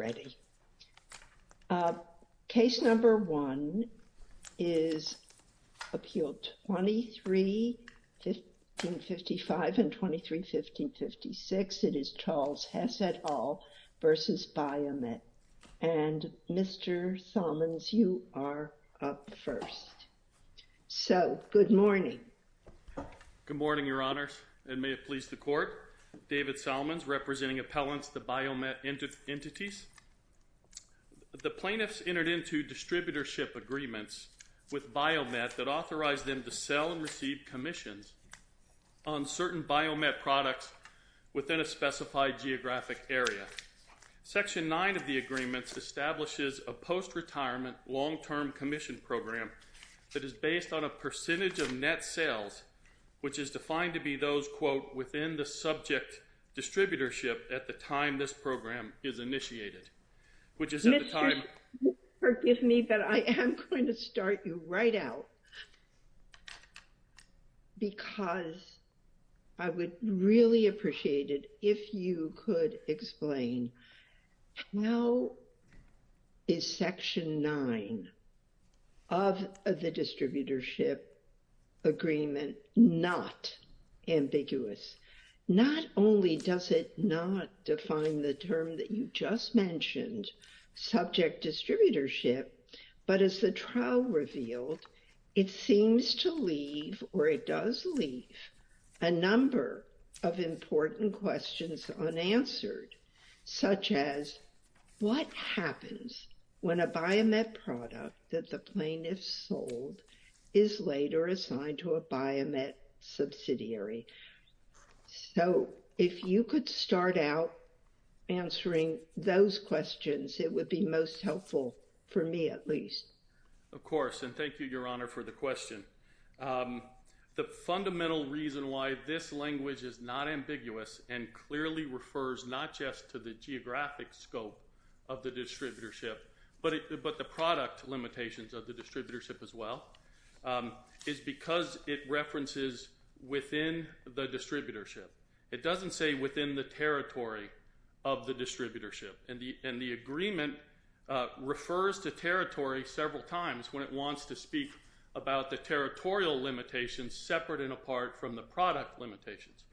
Good morning, Your Honors, and may it please the Court, David Solomons, representing Appellants, the Biomet entities. The plaintiffs entered into distributorship agreements with Biomet that authorized them to sell and receive commissions on certain Biomet products within a specified geographic area. Section 9 of the agreements establishes a post-retirement long-term commission program that is based on a percentage of net sales, which is defined to be those, quote, at the time this program is initiated, which is at the time. Mr. Hess, forgive me, but I am going to start you right out because I would really appreciate it if you could explain how is Section 9 of the distributorship agreement not ambiguous? Not only does it not define the term that you just mentioned, subject distributorship, but as the trial revealed, it seems to leave, or it does leave, a number of important questions unanswered, such as what happens when a Biomet product that the plaintiffs sold is later assigned to a Biomet subsidiary. So, if you could start out answering those questions, it would be most helpful, for me at least. Of course, and thank you, Your Honor, for the question. The fundamental reason why this language is not ambiguous and clearly refers not just to the geographic scope of the distributorship, but the product limitations of the distributorship as well, is because it references within the distributorship. It doesn't say within the territory of the distributorship, and the agreement refers to territory several times when it wants to speak about the territorial limitations separate and apart from the product limitations.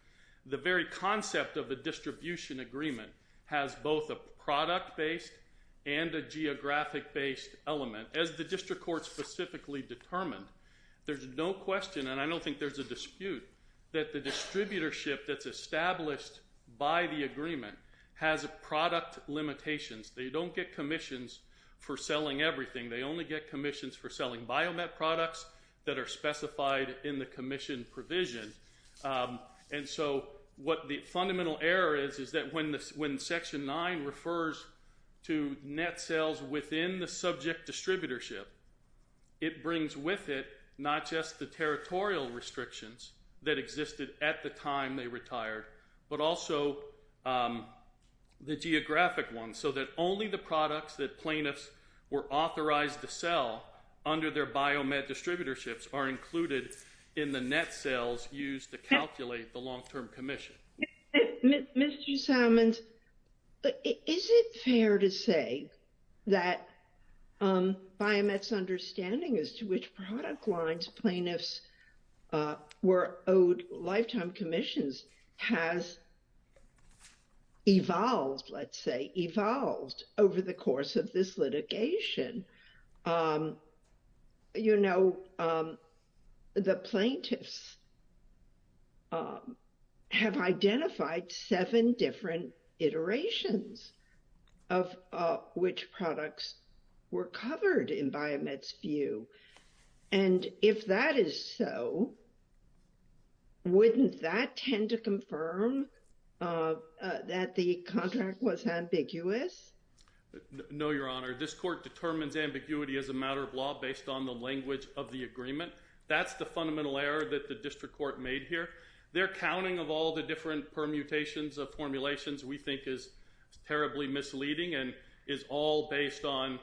The very concept of a distribution agreement has both a product-based and a geographic-based element, as the district court specifically determined. There's no question, and I don't think there's a dispute, that the distributorship that's established by the agreement has product limitations. They don't get commissions for selling everything. They only get commissions for selling Biomet products that are specified in the commission provision, and so what the distributorship, it brings with it not just the territorial restrictions that existed at the time they retired, but also the geographic ones, so that only the products that plaintiffs were authorized to sell under their Biomet distributorships are included in the net sales used to calculate the long-term commission. Mr. Simons, is it fair to say that Biomet's understanding as to which product lines plaintiffs were owed lifetime commissions has evolved, let's say, evolved over the course of this process, have identified seven different iterations of which products were covered in Biomet's view, and if that is so, wouldn't that tend to confirm that the contract was ambiguous? No, Your Honor. This court determines ambiguity as a matter of law based on the language of the agreement. That's the fundamental error that the district court made here. Their counting of all the different permutations of formulations we think is terribly misleading and is all based on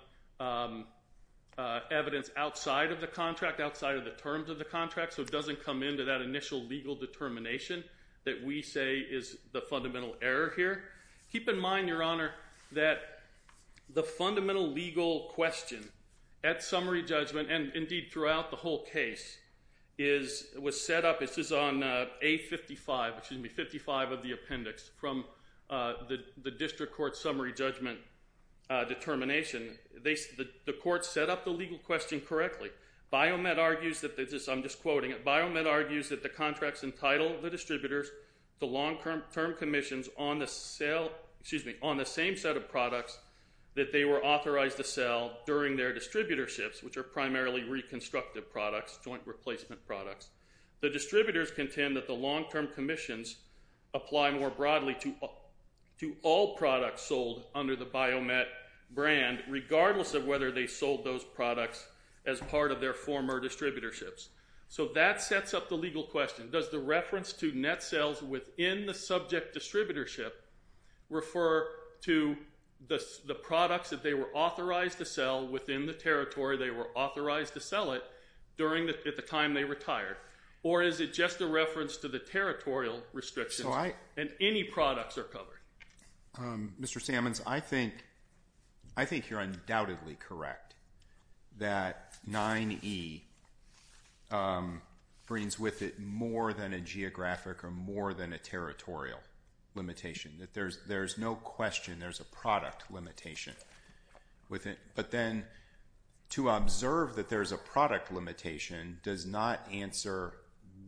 evidence outside of the contract, outside of the terms of the contract, so it doesn't come into that initial legal determination that we say is the fundamental error here. Keep in mind, Your Honor, that the fundamental legal question at summary judgment, and indeed throughout the whole case, was set up, this is on A55, excuse me, 55 of the appendix from the district court summary judgment determination. The court set up the legal question correctly. Biomet argues that, I'm just quoting it, Biomet argues that the contracts entitle the distributors to long-term commissions on the same set of products that they were authorized to sell during their distributorships, which are primarily reconstructive products, joint replacement products. The distributors contend that the long-term commissions apply more broadly to all products sold under the Biomet brand regardless of whether they sold those products as part of their former distributorships. So that sets up the legal question. Does the reference to net sales within the subject distributorship refer to the products that they were authorized to sell within the territory they were authorized to sell it at the time they retired, or is it just a reference to the territorial restrictions and any products are covered? Mr. Sammons, I think you're undoubtedly correct that 9E brings with it more than a geographic or more than a territorial limitation. There's no question there's a product limitation within, but then to observe that there's a product limitation does not answer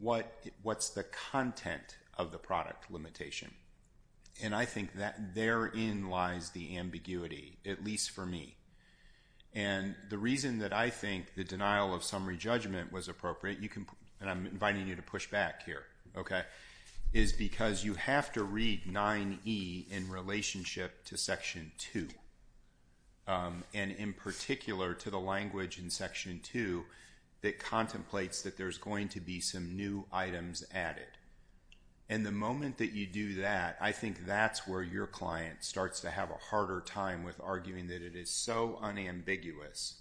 what's the content of the product limitation. And I think that therein lies the ambiguity, at least for me. And the reason that I think the denial of summary judgment was appropriate, you can, and I'm inviting you to push back here, okay, is because you have to read 9E in relationship to Section 2, and in particular to the language in Section 2 that contemplates that there's going to be some new items added. And the moment that you do that, I think that's where your client starts to have a harder time with arguing that it is so unambiguous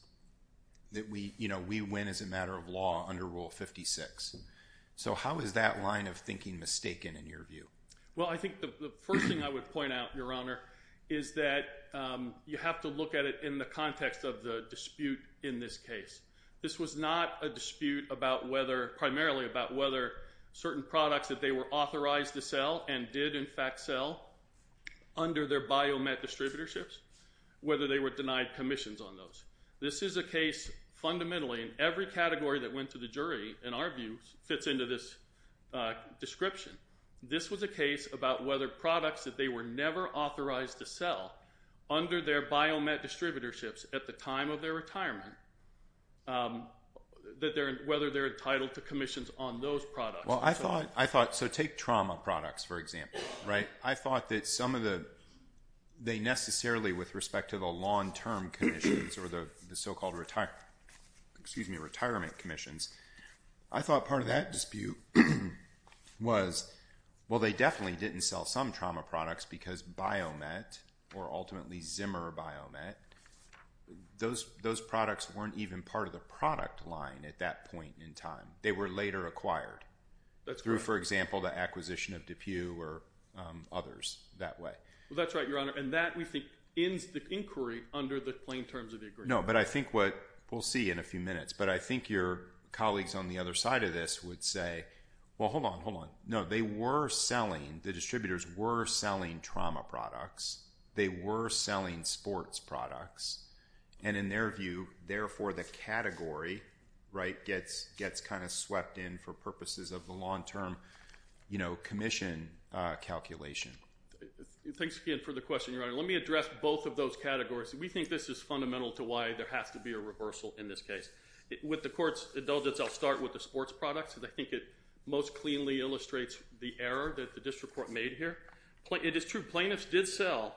that we, you know, we win as a matter of law under Rule 56. So how is that line of thinking mistaken in your view? Well, I think the first thing I would point out, Your Honor, is that you have to look at it in the context of the dispute in this case. This was not a dispute about whether, primarily about whether certain products that they were authorized to sell and did in fact sell under their Biomat distributorships, whether they were denied commissions on those. This is a case, fundamentally, in every category that went to the jury, in our view, fits into this description. This was a case about whether products that they were never authorized to sell under their Biomat distributorships at the time of their retirement, that they're, whether they're entitled to commissions on those products. Well, I thought, I thought, so take trauma products, for example, right? I thought that some of the, they necessarily, with respect to the long-term commissions or the so-called retirement, excuse me, retirement commissions, I thought part of that dispute was, well, they definitely didn't sell some trauma products because Biomat, or ultimately Zimmer Biomat, those products weren't even part of the product line at that point in time. They were later acquired through, for example, the acquisition of DePue or others that way. Well, that's right, Your Honor, and that, we think, ends the inquiry under the plain terms of the agreement. No, but I think what, we'll see in a few minutes, but I think your colleagues on the other side of this would say, well, hold on, hold on. No, they were selling, the distributors were selling trauma products. They were selling sports products, and in their view, therefore the category, right, gets kind of swept in for purposes of the long-term, you know, commission calculation. Thanks again for the question, Your Honor. Let me address both of those categories. We think this is fundamental to why there has to be a reversal in this case. With the Court's indulgence, I'll start with the sports products because I think it most cleanly illustrates the error that the district court made here. It is true, plaintiffs did sell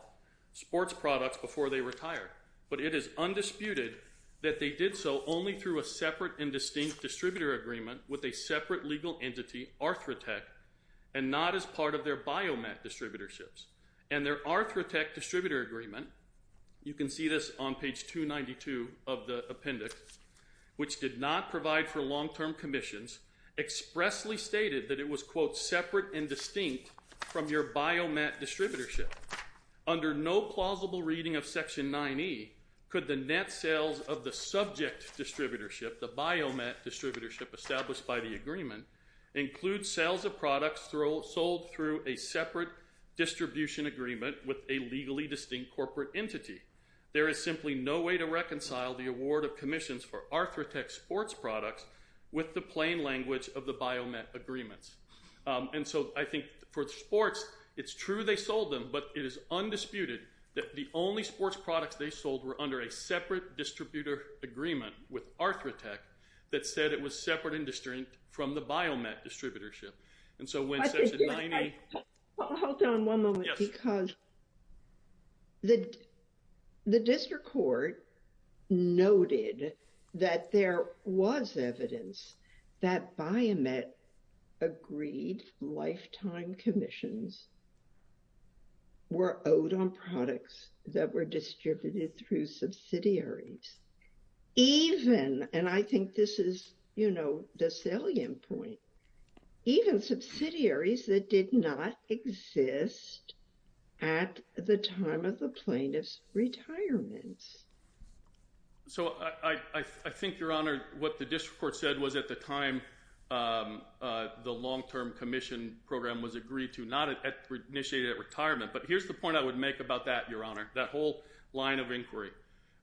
sports products before they retired, but it is undisputed that they did so only through a separate and distinct distributor agreement with a separate legal entity, Arthrotech, and not as part of their Biomat distributorships. And their Arthrotech distributor agreement, you can see this on page 292 of the appendix, which did not provide for long-term commissions, expressly stated that it was, quote, separate and distinct from your Biomat distributorship. Under no plausible reading of Section 9E, could the net sales of the subject distributorship, the Biomat distributorship established by the agreement, include sales of products sold through a separate distribution agreement with a legally distinct corporate entity? There is simply no way to reconcile the award of commissions for Arthrotech sports products with the plain language of the Biomat agreements. And so I think for the sports, it's true they sold them, but it is undisputed that the only sports products they sold were under a separate distributor agreement with Arthrotech that said it was separate and distinct from the Biomat distributorship. And so when Section 9E... Hold on one moment, because the district court noted that there was evidence that Biomat agreed lifetime commissions were owed on products that were distributed through subsidiaries. Even, and I think this is, you know, the salient point, even subsidiaries that did not exist at the time of the plaintiff's retirement. So I think, Your Honor, what the district court said was at the time the long-term commission program was agreed to, not initiated at retirement. But here's the point I would make about that, Your Honor, that whole line of inquiry.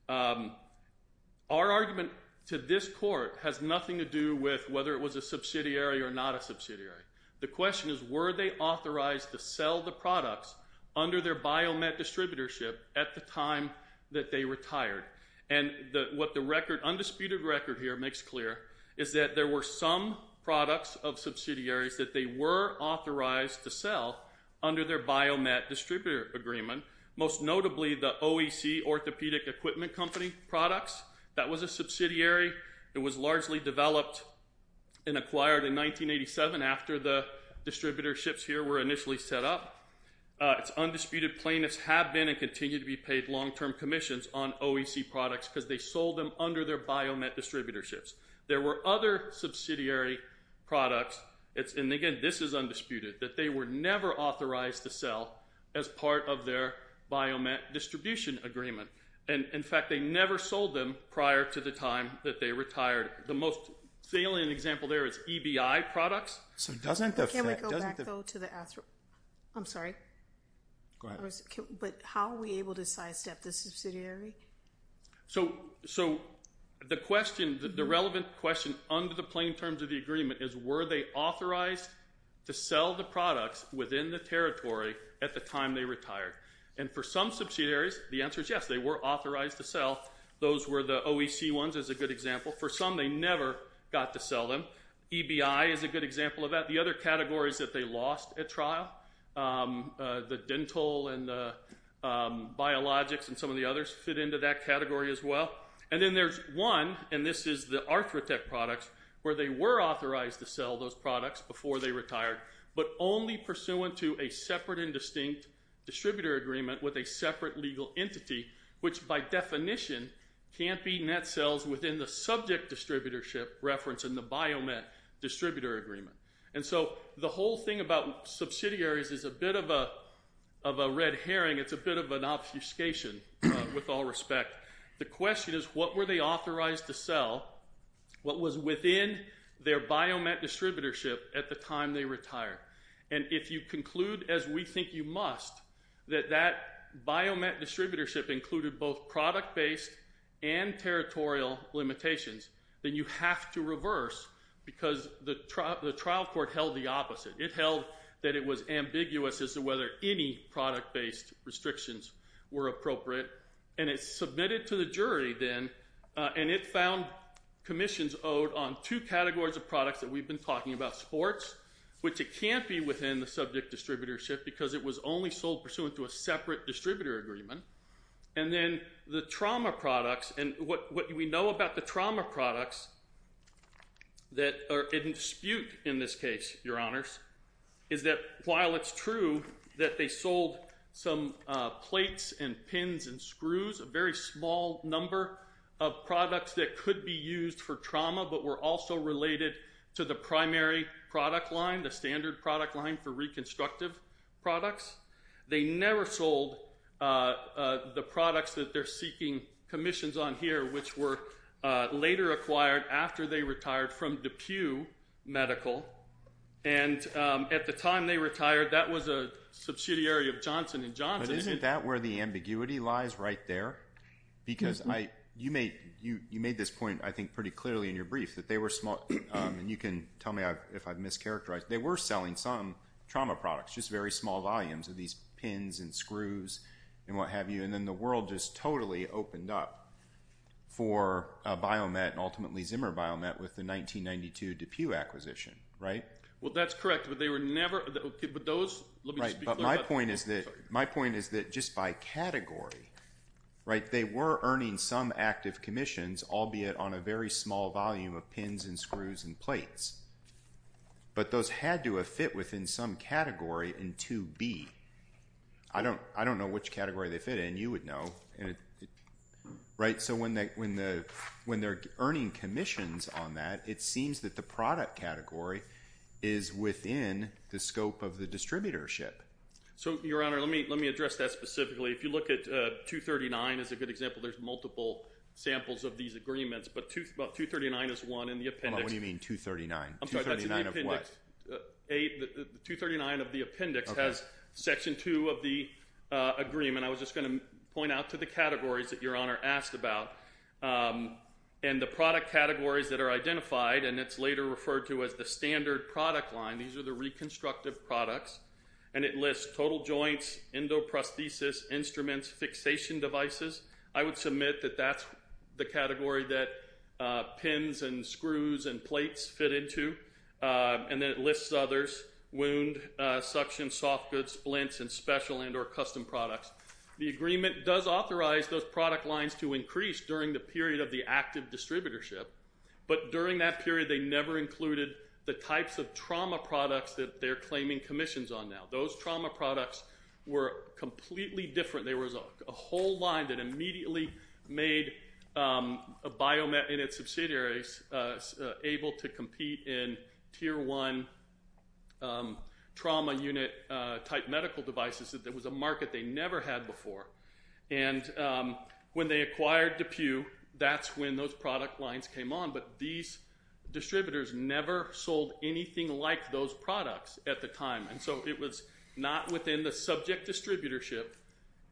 Our argument to this court has nothing to do with whether it was a subsidiary or not a subsidiary. The question is, were they authorized to sell the products under their Biomat distributorship at the time that they retired? And what the undisputed record here makes clear is that there were some products of subsidiaries that they were authorized to sell under their Biomat distributor agreement, most notably the OEC Orthopedic Equipment Company products. That was a subsidiary. It was largely developed and acquired in 1987 after the distributorships here were initially set up. Its undisputed plaintiffs have been and continue to be paid long-term commissions on OEC products because they sold them under their Biomat distributorships. There were other subsidiary products, and again, this is undisputed, that they were never authorized to sell as part of their Biomat distribution agreement. In fact, they never sold them prior to the time that they retired. The most salient example there is EBI products. Can we go back, though, to the – I'm sorry. Go ahead. But how were we able to sidestep the subsidiary? So the relevant question under the plain terms of the agreement is, were they authorized to sell the products within the territory at the time they retired? And for some subsidiaries, the answer is yes, they were authorized to sell. Those were the OEC ones is a good example. For some, they never got to sell them. EBI is a good example of that. The other categories that they lost at trial, the dental and the biologics and some of the others fit into that category as well. And then there's one, and this is the Arthrotec products, where they were authorized to sell those but only pursuant to a separate and distinct distributor agreement with a separate legal entity, which by definition can't be net sales within the subject distributorship reference in the Biomat distributor agreement. And so the whole thing about subsidiaries is a bit of a red herring. It's a bit of an obfuscation, with all respect. The question is, what were they authorized to sell? What was within their Biomat distributorship at the time they retired? And if you conclude, as we think you must, that that Biomat distributorship included both product-based and territorial limitations, then you have to reverse because the trial court held the opposite. It held that it was ambiguous as to whether any product-based restrictions were appropriate, and it submitted to the jury then, and it found commissions owed on two categories of products that we've been talking about, sports, which it can't be within the subject distributorship because it was only sold pursuant to a separate distributor agreement, and then the trauma products. And what we know about the trauma products that are in dispute in this case, Your Honors, is that while it's true that they sold some plates and pins and screws, a very small number of products that could be used for trauma but were also related to the primary product line, the standard product line for reconstructive products, they never sold the products that they're seeking commissions on here, which were later acquired after they retired from DePue Medical. And at the time they retired, that was a subsidiary of Johnson & Johnson. But isn't that where the ambiguity lies right there? Because you made this point, I think, pretty clearly in your brief, that they were small. And you can tell me if I've mischaracterized. They were selling some trauma products, just very small volumes of these pins and screws and what have you, and then the world just totally opened up for a biomet and ultimately Zimmer biomet with the 1992 DePue acquisition, right? Well, that's correct, but they were never – but those – let me speak to that. But my point is that just by category, right, they were earning some active commissions, albeit on a very small volume of pins and screws and plates. But those had to have fit within some category in 2B. I don't know which category they fit in. You would know, right? So when they're earning commissions on that, it seems that the product category is within the scope of the distributorship. So, Your Honor, let me address that specifically. If you look at 239 as a good example, there's multiple samples of these agreements. But 239 is one in the appendix. What do you mean 239? I'm sorry, that's in the appendix. 239 of what? The appendix has Section 2 of the agreement. I was just going to point out to the categories that Your Honor asked about. And the product categories that are identified, and it's later referred to as the standard product line, these are the reconstructive products, and it lists total joints, endoprosthesis, instruments, fixation devices. I would submit that that's the category that pins and screws and plates fit into. And then it lists others, wound, suction, soft goods, splints, and special and or custom products. The agreement does authorize those product lines to increase during the period of the active distributorship. But during that period, they never included the types of trauma products that they're claiming commissions on now. Those trauma products were completely different. There was a whole line that immediately made a biomed in its subsidiaries able to compete in Tier 1 trauma unit type medical devices. It was a market they never had before. And when they acquired DePue, that's when those product lines came on. But these distributors never sold anything like those products at the time. And so it was not within the subject distributorship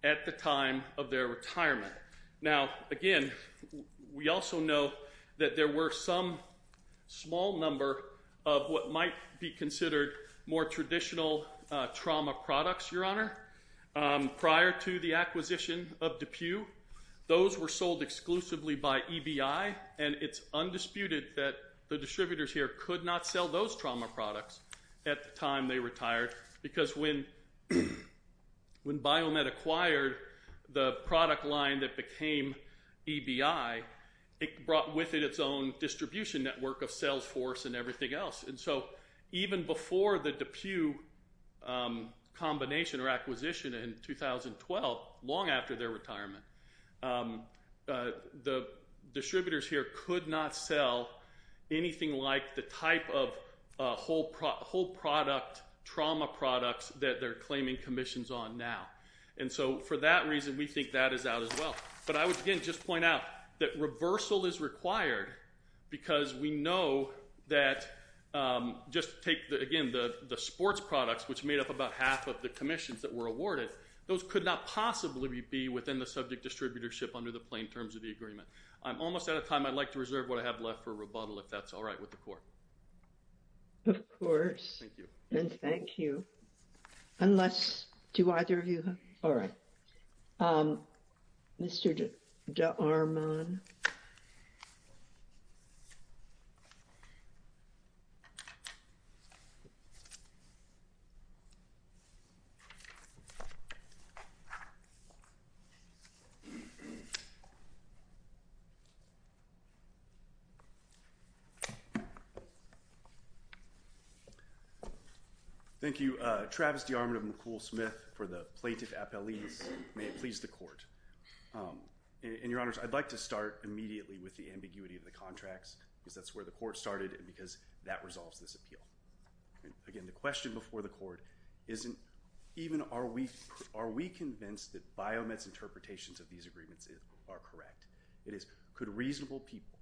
at the time of their retirement. Now, again, we also know that there were some small number of what might be considered more traditional trauma products, Your Honor. Prior to the acquisition of DePue, those were sold exclusively by EBI, and it's undisputed that the distributors here could not sell those trauma products at the time they retired. Because when Biomed acquired the product line that became EBI, it brought with it its own distribution network of Salesforce and everything else. And so even before the DePue combination or acquisition in 2012, long after their retirement, the distributors here could not sell anything like the type of whole product trauma products that they're claiming commissions on now. And so for that reason, we think that is out as well. But I would, again, just point out that reversal is required because we know that just take, again, the sports products, which made up about half of the commissions that were awarded, those could not possibly be within the subject distributorship under the plain terms of the agreement. I'm almost out of time. I'd like to reserve what I have left for rebuttal if that's all right with the court. Of course. Thank you. And thank you. Unless, do either of you have? All right. Mr. DeArmond. Thank you. Travis DeArmond of McCool Smith for the plaintiff appellees. May it please the court. And your honors, I'd like to start immediately with the ambiguity of the contracts because that's where the court started and because that resolves this appeal. Again, the question before the court isn't even are we are we convinced that Biomet's interpretations of these agreements are correct? It is could reasonable people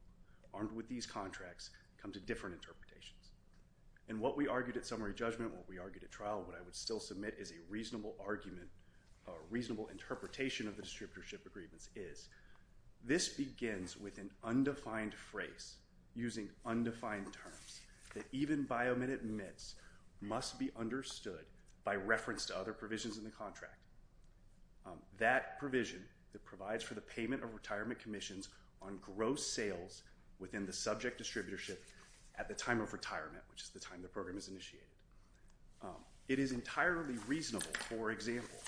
armed with these contracts come to different interpretations? And what we argued at summary judgment, what we argued at trial, what I would still submit is a reasonable argument, a reasonable interpretation of the distributorship agreements is. This begins with an undefined phrase using undefined terms that even Biomet admits must be understood by reference to other provisions in the contract. That provision that provides for the payment of retirement commissions on gross sales within the subject distributorship at the time of retirement, which is the time the program is initiated. It is entirely reasonable, for example,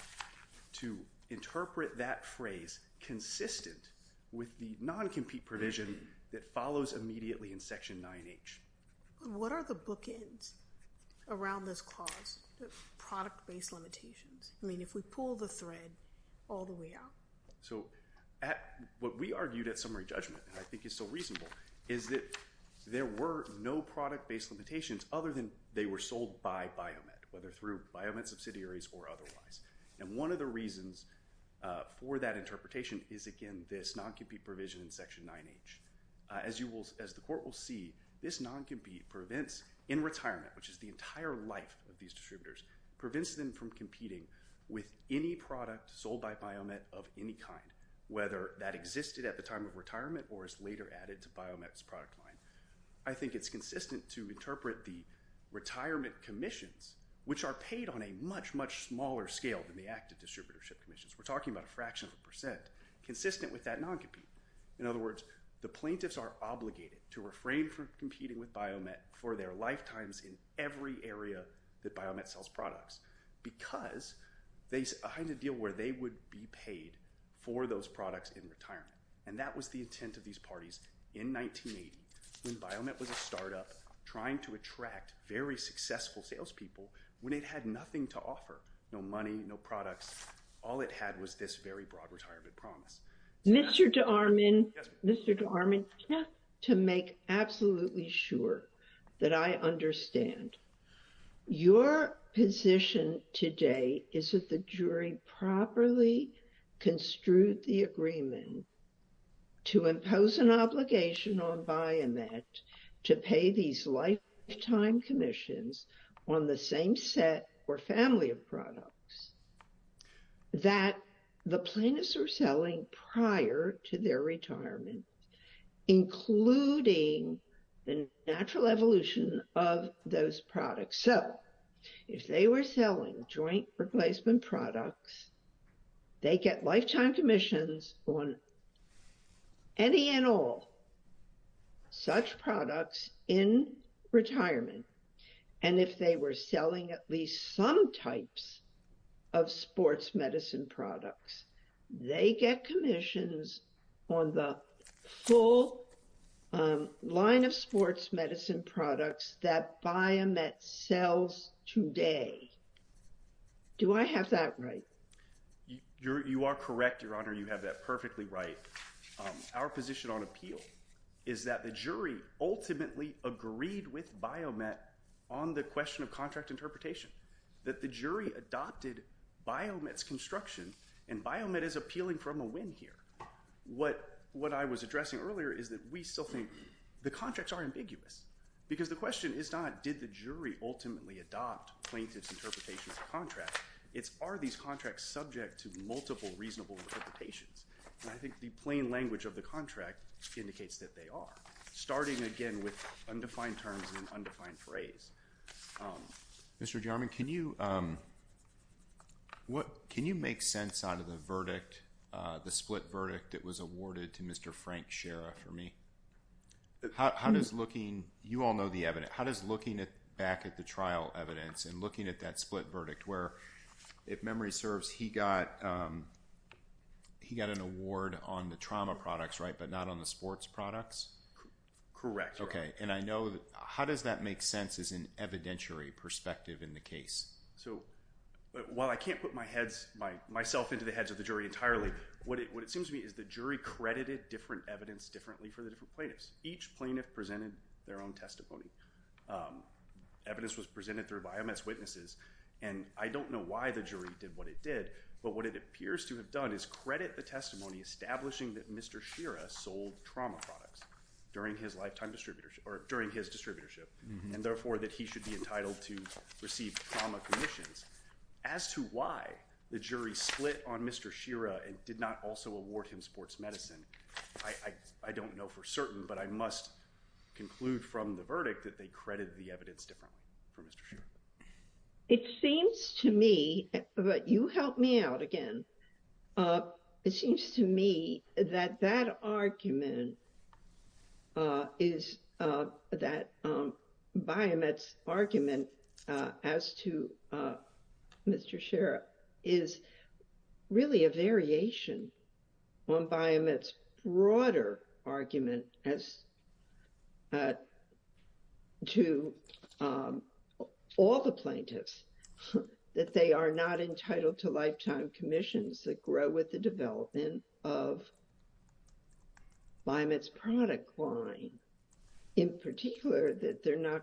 to interpret that phrase consistent with the non-compete provision that follows immediately in Section 9H. What are the bookends around this clause, product-based limitations? I mean, if we pull the thread all the way out. So what we argued at summary judgment, and I think it's so reasonable, is that there were no product-based limitations other than they were sold by Biomet, whether through Biomet subsidiaries or otherwise. And one of the reasons for that interpretation is, again, this non-compete provision in Section 9H. As the court will see, this non-compete prevents in retirement, which is the entire life of these distributors, prevents them from competing with any product sold by Biomet of any kind, whether that existed at the time of retirement or is later added to Biomet's product line. I think it's consistent to interpret the retirement commissions, which are paid on a much, much smaller scale than the active distributorship commissions. We're talking about a fraction of a percent, consistent with that non-compete. In other words, the plaintiffs are obligated to refrain from competing with Biomet for their lifetimes in every area that Biomet sells products because they hide a deal where they would be paid for those products in retirement. And that was the intent of these parties in 1980 when Biomet was a startup trying to attract very successful salespeople when it had nothing to offer. No money, no products. All it had was this very broad retirement promise. Mr. DeArmond, to make absolutely sure that I understand, your position today is that the jury properly construed the agreement to impose an obligation on Biomet to pay these lifetime commissions on the same set or family of products that the plaintiffs were selling prior to their retirement, including the natural evolution of those products. So if they were selling joint replacement products, they get lifetime commissions on any and all such products in retirement. And if they were selling at least some types of sports medicine products, they get commissions on the full line of sports medicine products that Biomet sells today. Do I have that right? You are correct, Your Honor. You have that perfectly right. Our position on appeal is that the jury ultimately agreed with Biomet on the question of contract interpretation, that the jury adopted Biomet's construction and Biomet is appealing from a win here. What I was addressing earlier is that we still think the contracts are ambiguous because the question is not did the jury ultimately adopt plaintiff's interpretation of the contract. It's are these contracts subject to multiple reasonable interpretations. And I think the plain language of the contract indicates that they are, starting again with undefined terms and undefined phrase. Mr. Jarman, can you make sense out of the verdict, the split verdict that was awarded to Mr. Frank Schera for me? How does looking, you all know the evidence, how does looking back at the trial evidence and looking at that split verdict where, if memory serves, he got an award on the trauma products, right, but not on the sports products? Correct. Okay. And I know that, how does that make sense as an evidentiary perspective in the case? So, while I can't put my heads, myself into the heads of the jury entirely, what it seems to me is the jury credited different evidence differently for the different plaintiffs. Each plaintiff presented their own testimony. Evidence was presented through biomass witnesses, and I don't know why the jury did what it did, but what it appears to have done is credit the testimony establishing that Mr. Schera sold trauma products during his lifetime distributorship, or during his distributorship, and therefore that he should be entitled to receive trauma commissions. As to why the jury split on Mr. Schera and did not also award him sports medicine, I don't know for certain, but I must conclude from the verdict that they credited the evidence differently for Mr. Schera. It seems to me, but you help me out again, it seems to me that that argument is, that Biomet's argument as to Mr. Schera is really a variation on Biomet's broader argument as to all the plaintiffs, that they are not entitled to lifetime commissions that grow with the development of Biomet's product line. In particular, that they're not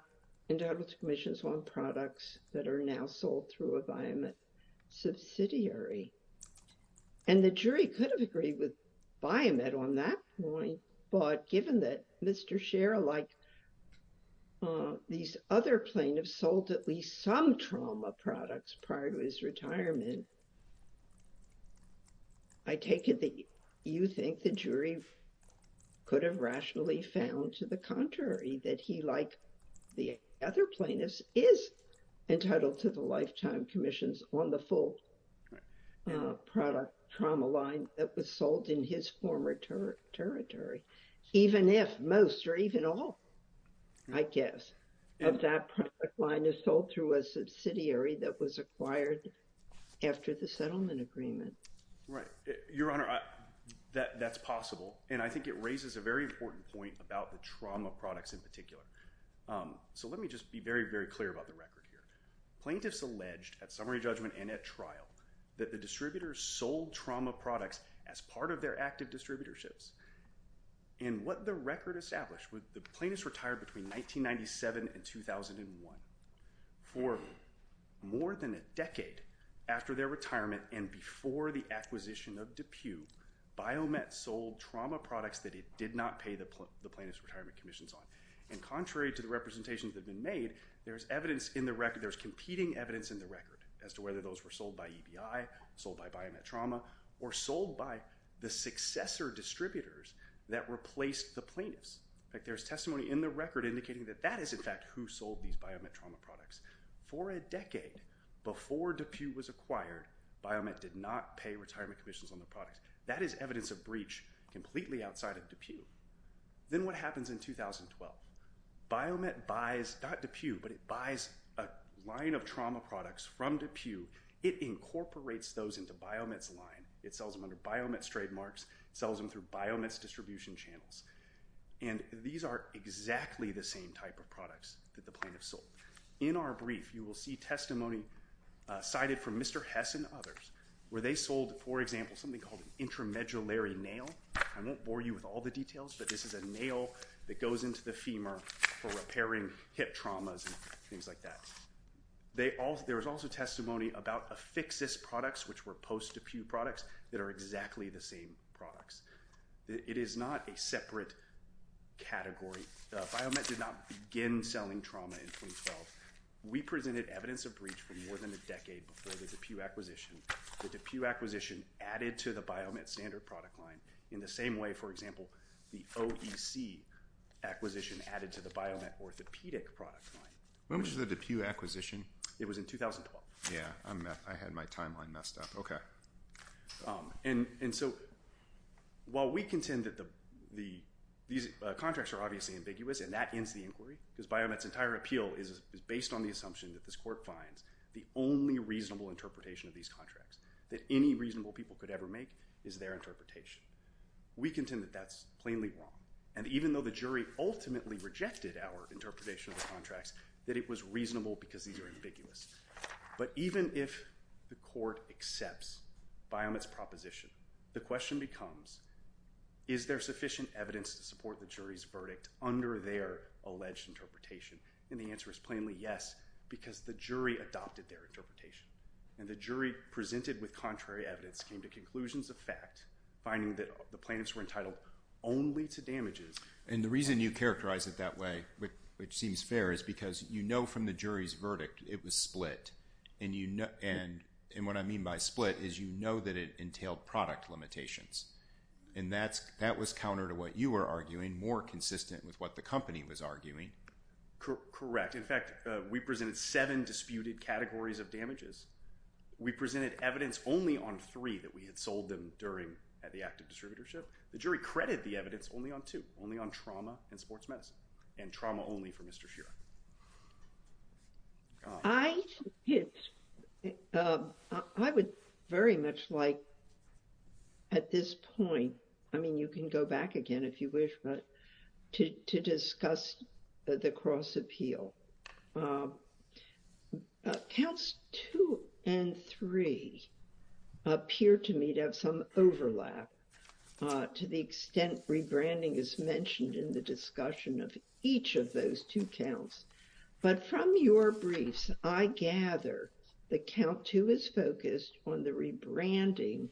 entitled to commissions on products that are now sold through a Biomet subsidiary. And the jury could have agreed with Biomet on that point, but given that Mr. Schera, like these other plaintiffs, sold at least some trauma products prior to his retirement, I take it that you think the jury could have rationally found to the contrary, that he, like the other plaintiffs, is entitled to the lifetime commissions on the full product trauma line that was sold in his former territory, even if most or even all, I guess, of that product line is sold through a subsidiary that was acquired after the settlement agreement. Right. Your Honor, that's possible. And I think it raises a very important point about the trauma products in particular. So let me just be very, very clear about the record here. Plaintiffs alleged, at summary judgment and at trial, that the distributors sold trauma products as part of their active distributorships. And what the record established was the plaintiffs retired between 1997 and 2001. For more than a decade after their retirement and before the acquisition of DePue, Biomet sold trauma products that it did not pay the plaintiffs' retirement commissions on. And contrary to the representations that have been made, there's evidence in the record, there's competing evidence in the record as to whether those were sold by EBI, sold by Biomet Trauma, or sold by the successor distributors that replaced the plaintiffs. There's testimony in the record indicating that that is, in fact, who sold these Biomet Trauma products. For a decade before DePue was acquired, Biomet did not pay retirement commissions on their products. Then what happens in 2012? Biomet buys, not DePue, but it buys a line of trauma products from DePue. It incorporates those into Biomet's line. It sells them under Biomet's trademarks. It sells them through Biomet's distribution channels. And these are exactly the same type of products that the plaintiffs sold. In our brief, you will see testimony cited from Mr. Hess and others, where they sold, for example, something called an intramedullary nail. I won't bore you with all the details, but this is a nail that goes into the femur for repairing hip traumas and things like that. There was also testimony about Afixis products, which were post-DePue products, that are exactly the same products. It is not a separate category. Biomet did not begin selling trauma in 2012. We presented evidence of breach for more than a decade before the DePue acquisition. The DePue acquisition added to the Biomet standard product line in the same way, for example, the OEC acquisition added to the Biomet orthopedic product line. When was the DePue acquisition? It was in 2012. Yeah, I had my timeline messed up. Okay. And so while we contend that these contracts are obviously ambiguous, and that ends the inquiry, because Biomet's entire appeal is based on the assumption that this court finds the only reasonable interpretation of these contracts, that any reasonable people could ever make is their interpretation, we contend that that's plainly wrong. And even though the jury ultimately rejected our interpretation of the contracts, that it was reasonable because these are ambiguous. But even if the court accepts Biomet's proposition, the question becomes, is there sufficient evidence to support the jury's verdict under their alleged interpretation? And the answer is plainly yes, because the jury adopted their interpretation, and the jury presented with contrary evidence came to conclusions of fact, finding that the plaintiffs were entitled only to damages. And the reason you characterize it that way, which seems fair, is because you know from the jury's verdict it was split, and what I mean by split is you know that it entailed product limitations. And that was counter to what you were arguing, more consistent with what the company was arguing. Correct. In fact, we presented seven disputed categories of damages. We presented evidence only on three that we had sold them during the active distributorship. The jury credited the evidence only on two, only on trauma and sports medicine, and trauma only for Mr. Shearer. I would very much like at this point, I mean you can go back again if you wish, but to discuss the cross appeal. Counts two and three appear to me to have some overlap to the extent rebranding is mentioned in the discussion of each of those two counts. But from your briefs, I gather that count two is focused on the rebranding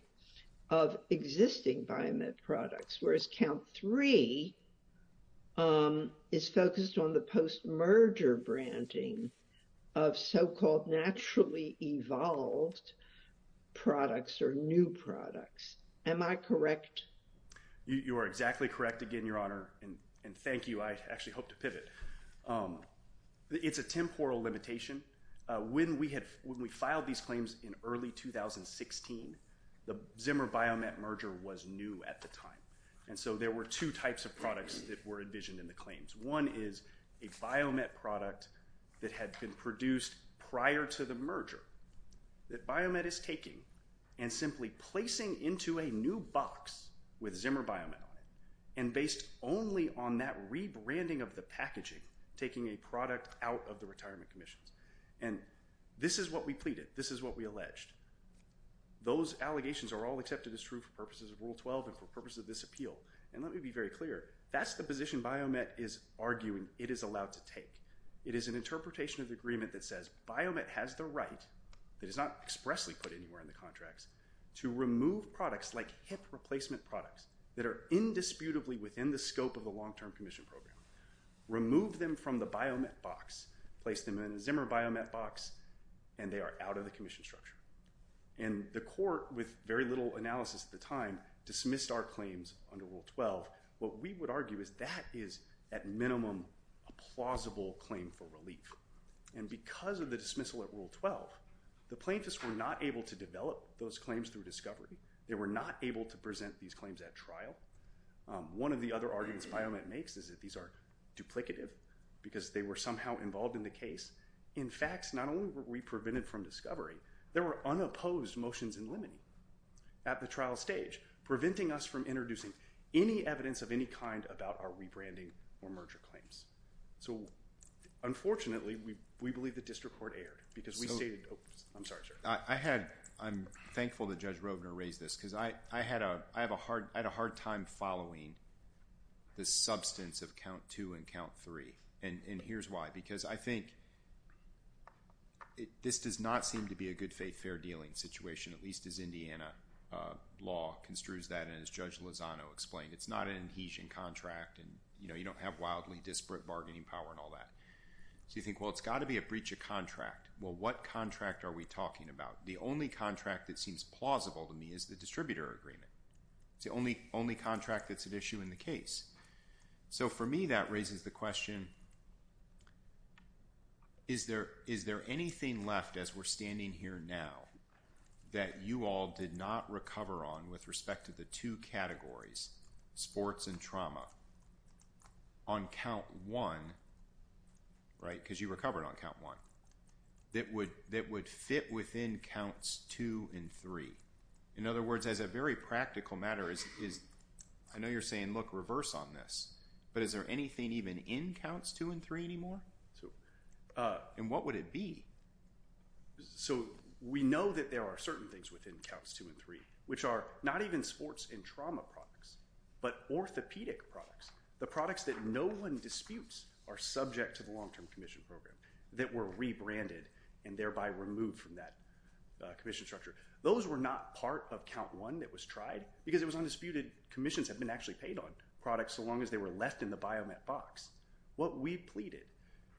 of existing Biomed products, whereas count three is focused on the post-merger branding of so-called naturally evolved products or new products. Am I correct? You are exactly correct again, Your Honor, and thank you. I actually hope to pivot. It's a temporal limitation. When we filed these claims in early 2016, the Zimmer Biomed merger was new at the time, and so there were two types of products that were envisioned in the claims. One is a Biomed product that had been produced prior to the merger that Biomed is taking and simply placing into a new box with Zimmer Biomed on it, and based only on that rebranding of the packaging, taking a product out of the retirement commissions. And this is what we pleaded. This is what we alleged. Those allegations are all accepted as true for purposes of Rule 12 and for purposes of this appeal, and let me be very clear, that's the position Biomed is arguing it is allowed to take. It is an interpretation of the agreement that says Biomed has the right, that is not expressly put anywhere in the contracts, to remove products like hip replacement products that are indisputably within the scope of the long-term commission program, remove them from the Biomed box, place them in a Zimmer Biomed box, and they are out of the commission structure. And the court, with very little analysis at the time, dismissed our claims under Rule 12. What we would argue is that is, at minimum, a plausible claim for relief. And because of the dismissal at Rule 12, the plaintiffs were not able to develop those claims through discovery. They were not able to present these claims at trial. One of the other arguments Biomed makes is that these are duplicative because they were somehow involved in the case. In fact, not only were we prevented from discovery, there were unopposed motions in limine at the trial stage, preventing us from introducing any evidence of any kind about our rebranding or merger claims. So, unfortunately, we believe the district court erred because we stated- I'm sorry, sir. I'm thankful that Judge Rovner raised this because I had a hard time following the substance of Count 2 and Count 3. And here's why. Because I think this does not seem to be a good, fair dealing situation, at least as Indiana law construes that, and as Judge Lozano explained. It's not an adhesion contract, and you don't have wildly disparate bargaining power and all that. So you think, well, it's got to be a breach of contract. Well, what contract are we talking about? The only contract that seems plausible to me is the distributor agreement. It's the only contract that's an issue in the case. So, for me, that raises the question, is there anything left as we're standing here now that you all did not recover on with respect to the two categories, sports and trauma, on Count 1, right? Because you recovered on Count 1. That would fit within Counts 2 and 3. In other words, as a very practical matter, I know you're saying, look, reverse on this. But is there anything even in Counts 2 and 3 anymore? And what would it be? So we know that there are certain things within Counts 2 and 3, which are not even sports and trauma products, but orthopedic products, the products that no one disputes are subject to the long-term commission program, that were rebranded and thereby removed from that commission structure. Those were not part of Count 1 that was tried, because it was undisputed commissions had been actually paid on products so long as they were left in the Biomet box. What we pleaded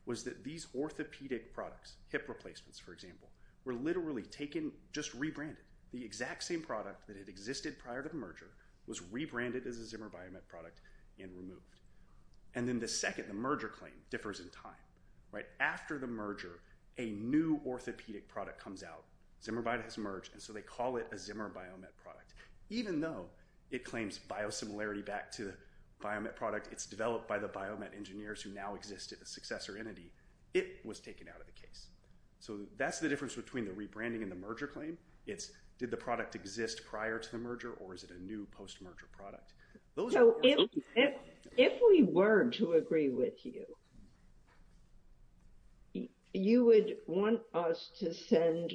was that these orthopedic products, hip replacements, for example, were literally taken, just rebranded. The exact same product that had existed prior to the merger was rebranded as a Zimmer Biomet product and removed. And then the second, the merger claim, differs in time. After the merger, a new orthopedic product comes out. Zimmer Biomet has merged, and so they call it a Zimmer Biomet product. Even though it claims biosimilarity back to the Biomet product, it's developed by the Biomet engineers who now exist as a successor entity, it was taken out of the case. So that's the difference between the rebranding and the merger claim. It's did the product exist prior to the merger, or is it a new post-merger product? If we were to agree with you, you would want us to send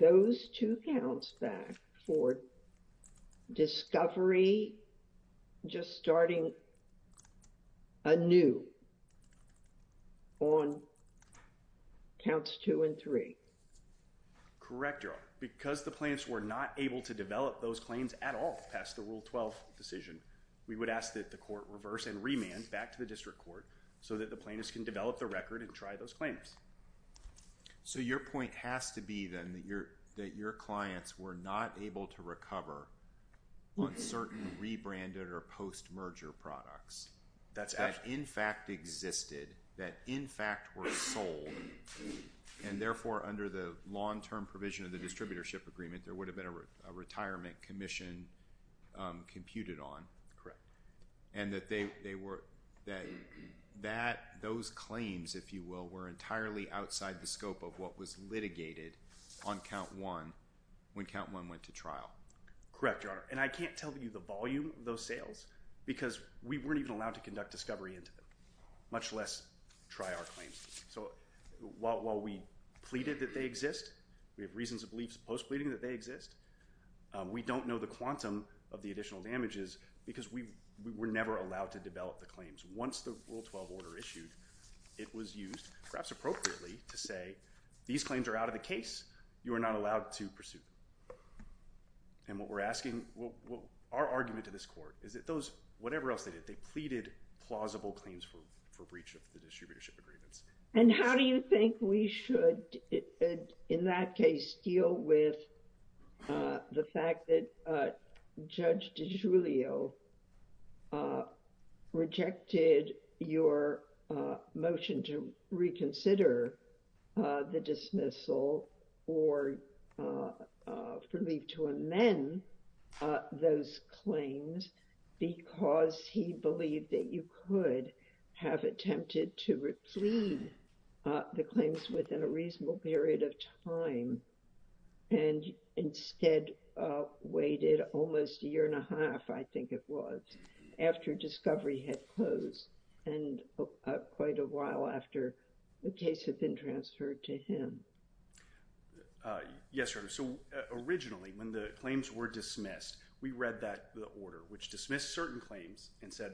those two counts back for discovery, just starting anew on counts two and three. Correct, Your Honor. Because the plaintiffs were not able to develop those claims at all past the Rule 12 decision, we would ask that the court reverse and remand back to the district court so that the plaintiffs can develop the record and try those claims. So your point has to be, then, that your clients were not able to recover on certain rebranded or post-merger products that in fact existed, that in fact were sold, and therefore under the long-term provision of the distributorship agreement, there would have been a retirement commission computed on. Correct. And that those claims, if you will, were entirely outside the scope of what was litigated on count one when count one went to trial. Correct, Your Honor. And I can't tell you the volume of those sales because we weren't even allowed to conduct discovery into them, much less try our claims. So while we pleaded that they exist, we have reasons of belief post-pleading that they exist, we don't know the quantum of the additional damages because we were never allowed to develop the claims. Once the Rule 12 order issued, it was used, perhaps appropriately, to say, these claims are out of the case, you are not allowed to pursue them. And what we're asking, our argument to this court is that those, whatever else they did, they pleaded plausible claims for breach of the distributorship agreements. And how do you think we should, in that case, deal with the fact that Judge DiGiulio rejected your motion to reconsider the dismissal or leave to amend those claims because he believed that you could have attempted to replead the claims within a reasonable period of time and instead waited almost a year and a half, I think it was, after discovery had closed and quite a while after the case had been transferred to him? Yes, Your Honor. So originally, when the claims were dismissed, we read the order, which dismissed certain claims and said,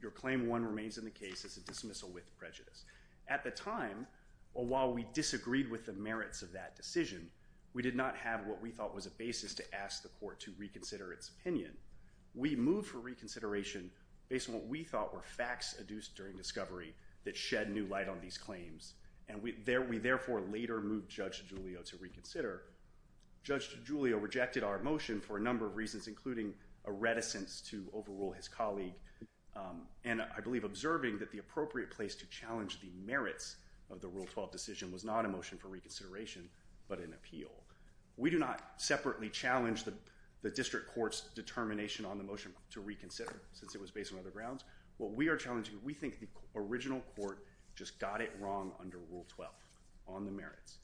your claim 1 remains in the case as a dismissal with prejudice. At the time, while we disagreed with the merits of that decision, we did not have what we thought was a basis to ask the court to reconsider its opinion. We moved for reconsideration based on what we thought were facts adduced during discovery that shed new light on these claims, and we therefore later moved Judge DiGiulio to reconsider. Judge DiGiulio rejected our motion for a number of reasons, including a reticence to overrule his colleague and, I believe, observing that the appropriate place to challenge the merits of the Rule 12 decision was not a motion for reconsideration but an appeal. We do not separately challenge the district court's determination on the motion to reconsider, since it was based on other grounds. What we are challenging, we think the original court just got it wrong under Rule 12 on the merits,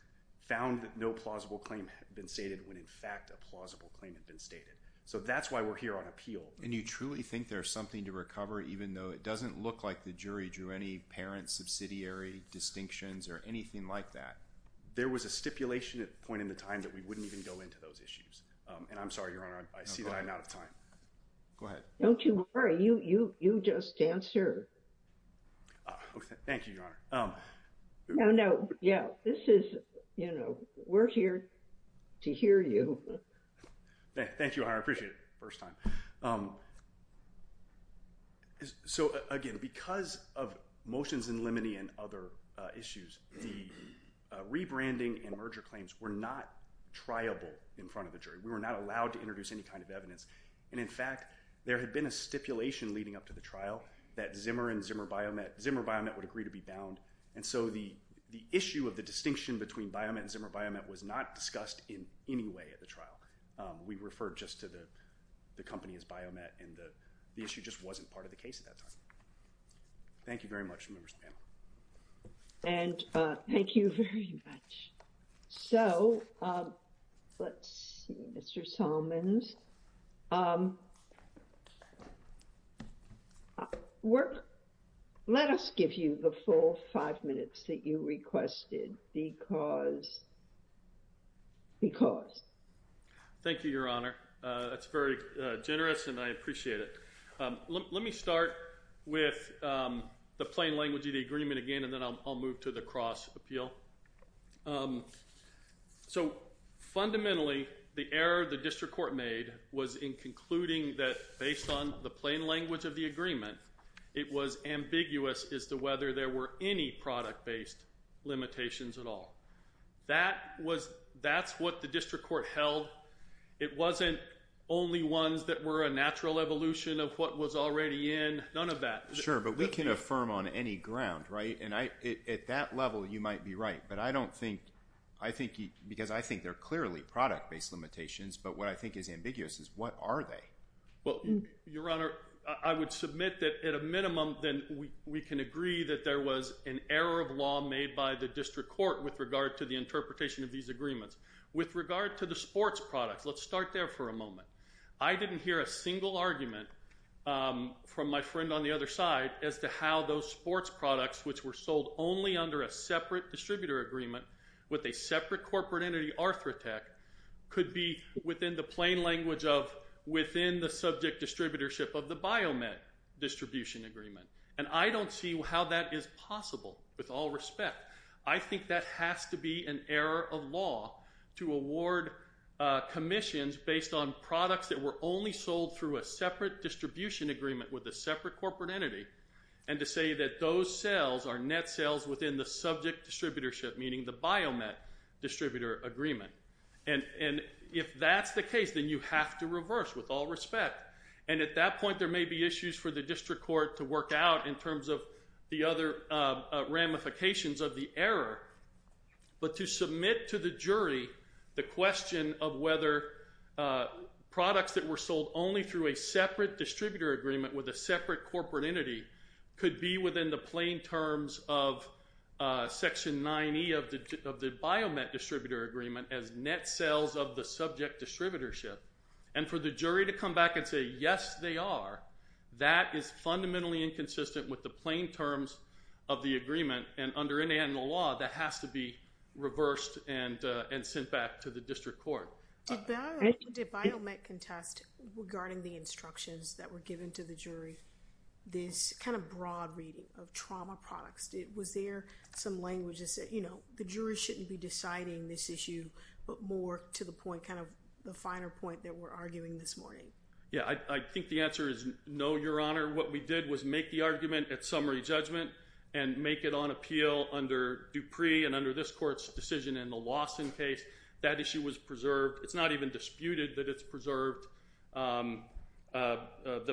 found that no plausible claim had been stated when, in fact, a plausible claim had been stated. So that's why we're here on appeal. And you truly think there's something to recover, even though it doesn't look like the jury drew any parent subsidiary distinctions or anything like that? There was a stipulation at the point in the time that we wouldn't even go into those issues. And I'm sorry, Your Honor, I see that I'm out of time. Go ahead. Don't you worry. You just answer. Thank you, Your Honor. No, no. Yeah, this is, you know, we're here to hear you. Thank you, Your Honor. I appreciate it. First time. So, again, because of motions in limine and other issues, the rebranding and merger claims were not triable in front of the jury. We were not allowed to introduce any kind of evidence. And, in fact, there had been a stipulation leading up to the trial that Zimmer and Zimmer Biomet, Zimmer Biomet would agree to be bound. And so the issue of the distinction between Biomet and Zimmer Biomet was not discussed in any way at the trial. We referred just to the company as Biomet, and the issue just wasn't part of the case at that time. Thank you very much, members of the panel. And thank you very much. So, let's see, Mr. Solomons. Let us give you the full five minutes that you requested because, because. Thank you, Your Honor. That's very generous, and I appreciate it. Let me start with the plain language of the agreement again, and then I'll move to the cross appeal. So, fundamentally, the error the district court made was in concluding that, based on the plain language of the agreement, it was ambiguous as to whether there were any product-based limitations at all. That was, that's what the district court held. It wasn't only ones that were a natural evolution of what was already in. None of that. Sure, but we can affirm on any ground, right? And I, at that level, you might be right, but I don't think, I think, because I think they're clearly product-based limitations, but what I think is ambiguous is what are they? Well, Your Honor, I would submit that, at a minimum, then we can agree that there was an error of law made by the district court with regard to the interpretation of these agreements. With regard to the sports products, let's start there for a moment. I didn't hear a single argument from my friend on the other side as to how those sports products, which were sold only under a separate distributor agreement with a separate corporate entity, Arthrotec, could be within the plain language of within the subject distributorship of the Biomed distribution agreement. And I don't see how that is possible, with all respect. I think that has to be an error of law to award commissions based on products that were only sold through a separate distribution agreement with a separate corporate entity and to say that those sales are net sales within the subject distributorship, meaning the Biomed distributor agreement. And if that's the case, then you have to reverse, with all respect. And at that point, there may be issues for the district court to work out in terms of the other ramifications of the error. But to submit to the jury the question of whether products that were sold only through a separate distributor agreement with a separate corporate entity could be within the plain terms of Section 9E of the Biomed distributor agreement as net sales of the subject distributorship. And for the jury to come back and say, yes, they are, that is fundamentally inconsistent with the plain terms of the agreement. And under internal law, that has to be reversed and sent back to the district court. Did Biomed contest, regarding the instructions that were given to the jury, this kind of broad reading of trauma products? Was there some language that said, you know, the jury shouldn't be deciding this issue, but more to the point, kind of the finer point that we're arguing this morning? Yeah, I think the answer is no, Your Honor. What we did was make the argument at summary judgment and make it on appeal under Dupree and under this court's decision in the Lawson case. That issue was preserved. It's not even disputed that it's preserved. The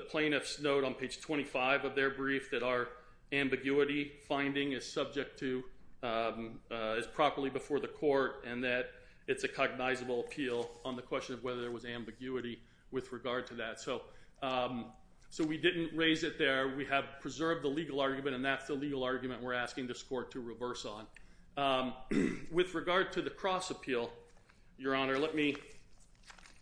plaintiffs note on page 25 of their brief that our ambiguity finding is subject to is properly before the court and that it's a cognizable appeal on the question of whether there was ambiguity with regard to that. So we didn't raise it there. We have preserved the legal argument, and that's the legal argument we're asking this court to reverse on. With regard to the cross appeal, Your Honor, let me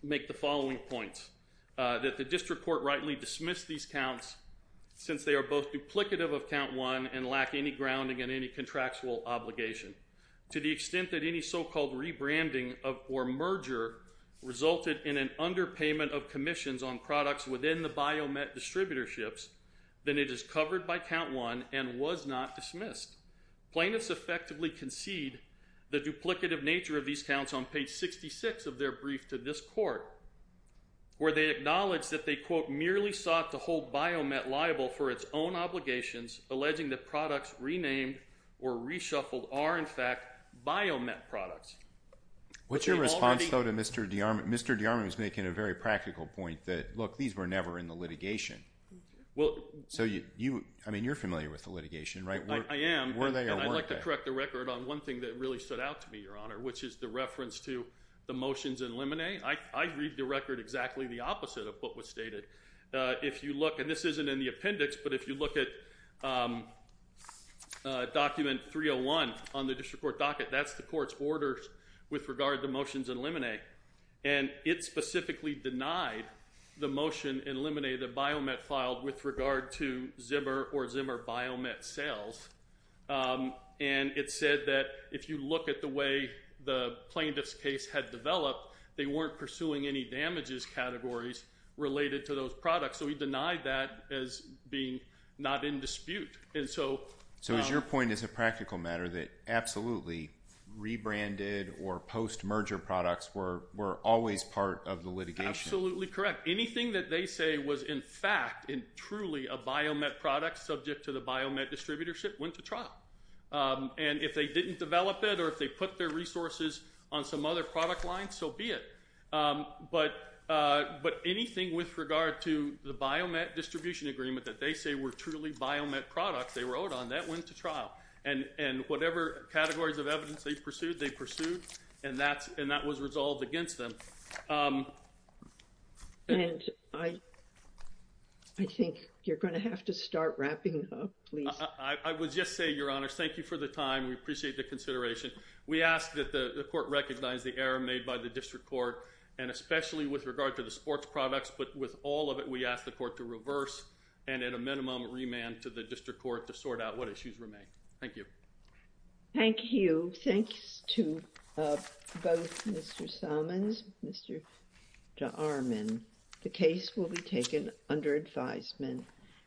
make the following points. That the district court rightly dismissed these counts since they are both duplicative of count one and lack any grounding in any contractual obligation. To the extent that any so-called rebranding or merger resulted in an underpayment of commissions on products within the Biomet distributorships, then it is covered by count one and was not dismissed. Plaintiffs effectively concede the duplicative nature of these counts on page 66 of their brief to this court where they acknowledge that they, quote, merely sought to hold Biomet liable for its own obligations, alleging that products renamed or reshuffled are, in fact, Biomet products. What's your response, though, to Mr. DeArmond? Mr. DeArmond was making a very practical point that, look, these were never in the litigation. So, I mean, you're familiar with the litigation, right? I am. And I'd like to correct the record on one thing that really stood out to me, Your Honor, which is the reference to the motions in Limine. I read the record exactly the opposite of what was stated. If you look, and this isn't in the appendix, but if you look at document 301 on the district court docket, that's the court's orders with regard to motions in Limine. And it specifically denied the motion in Limine that Biomet filed with regard to Zimmer or Zimmer Biomet sales. And it said that if you look at the way the plaintiff's case had developed, they weren't pursuing any damages categories related to those products. So he denied that as being not in dispute. So is your point as a practical matter that absolutely rebranded or post-merger products were always part of the litigation? Absolutely correct. Anything that they say was in fact and truly a Biomet product subject to the Biomet distributorship went to trial. And if they didn't develop it or if they put their resources on some other product line, so be it. But anything with regard to the Biomet distribution agreement that they say were truly Biomet products, they were owed on, that went to trial. And whatever categories of evidence they pursued, they pursued, and that was resolved against them. And I think you're going to have to start wrapping up, please. I would just say, Your Honor, thank you for the time. We appreciate the consideration. We ask that the court recognize the error made by the district court, and especially with regard to the sports products, but with all of it, we ask the court to reverse and at a minimum remand to the district court to sort out what issues remain. Thank you. Thank you. Thanks to both Mr. Salmons and Mr. Jarman. The case will be taken under advisement.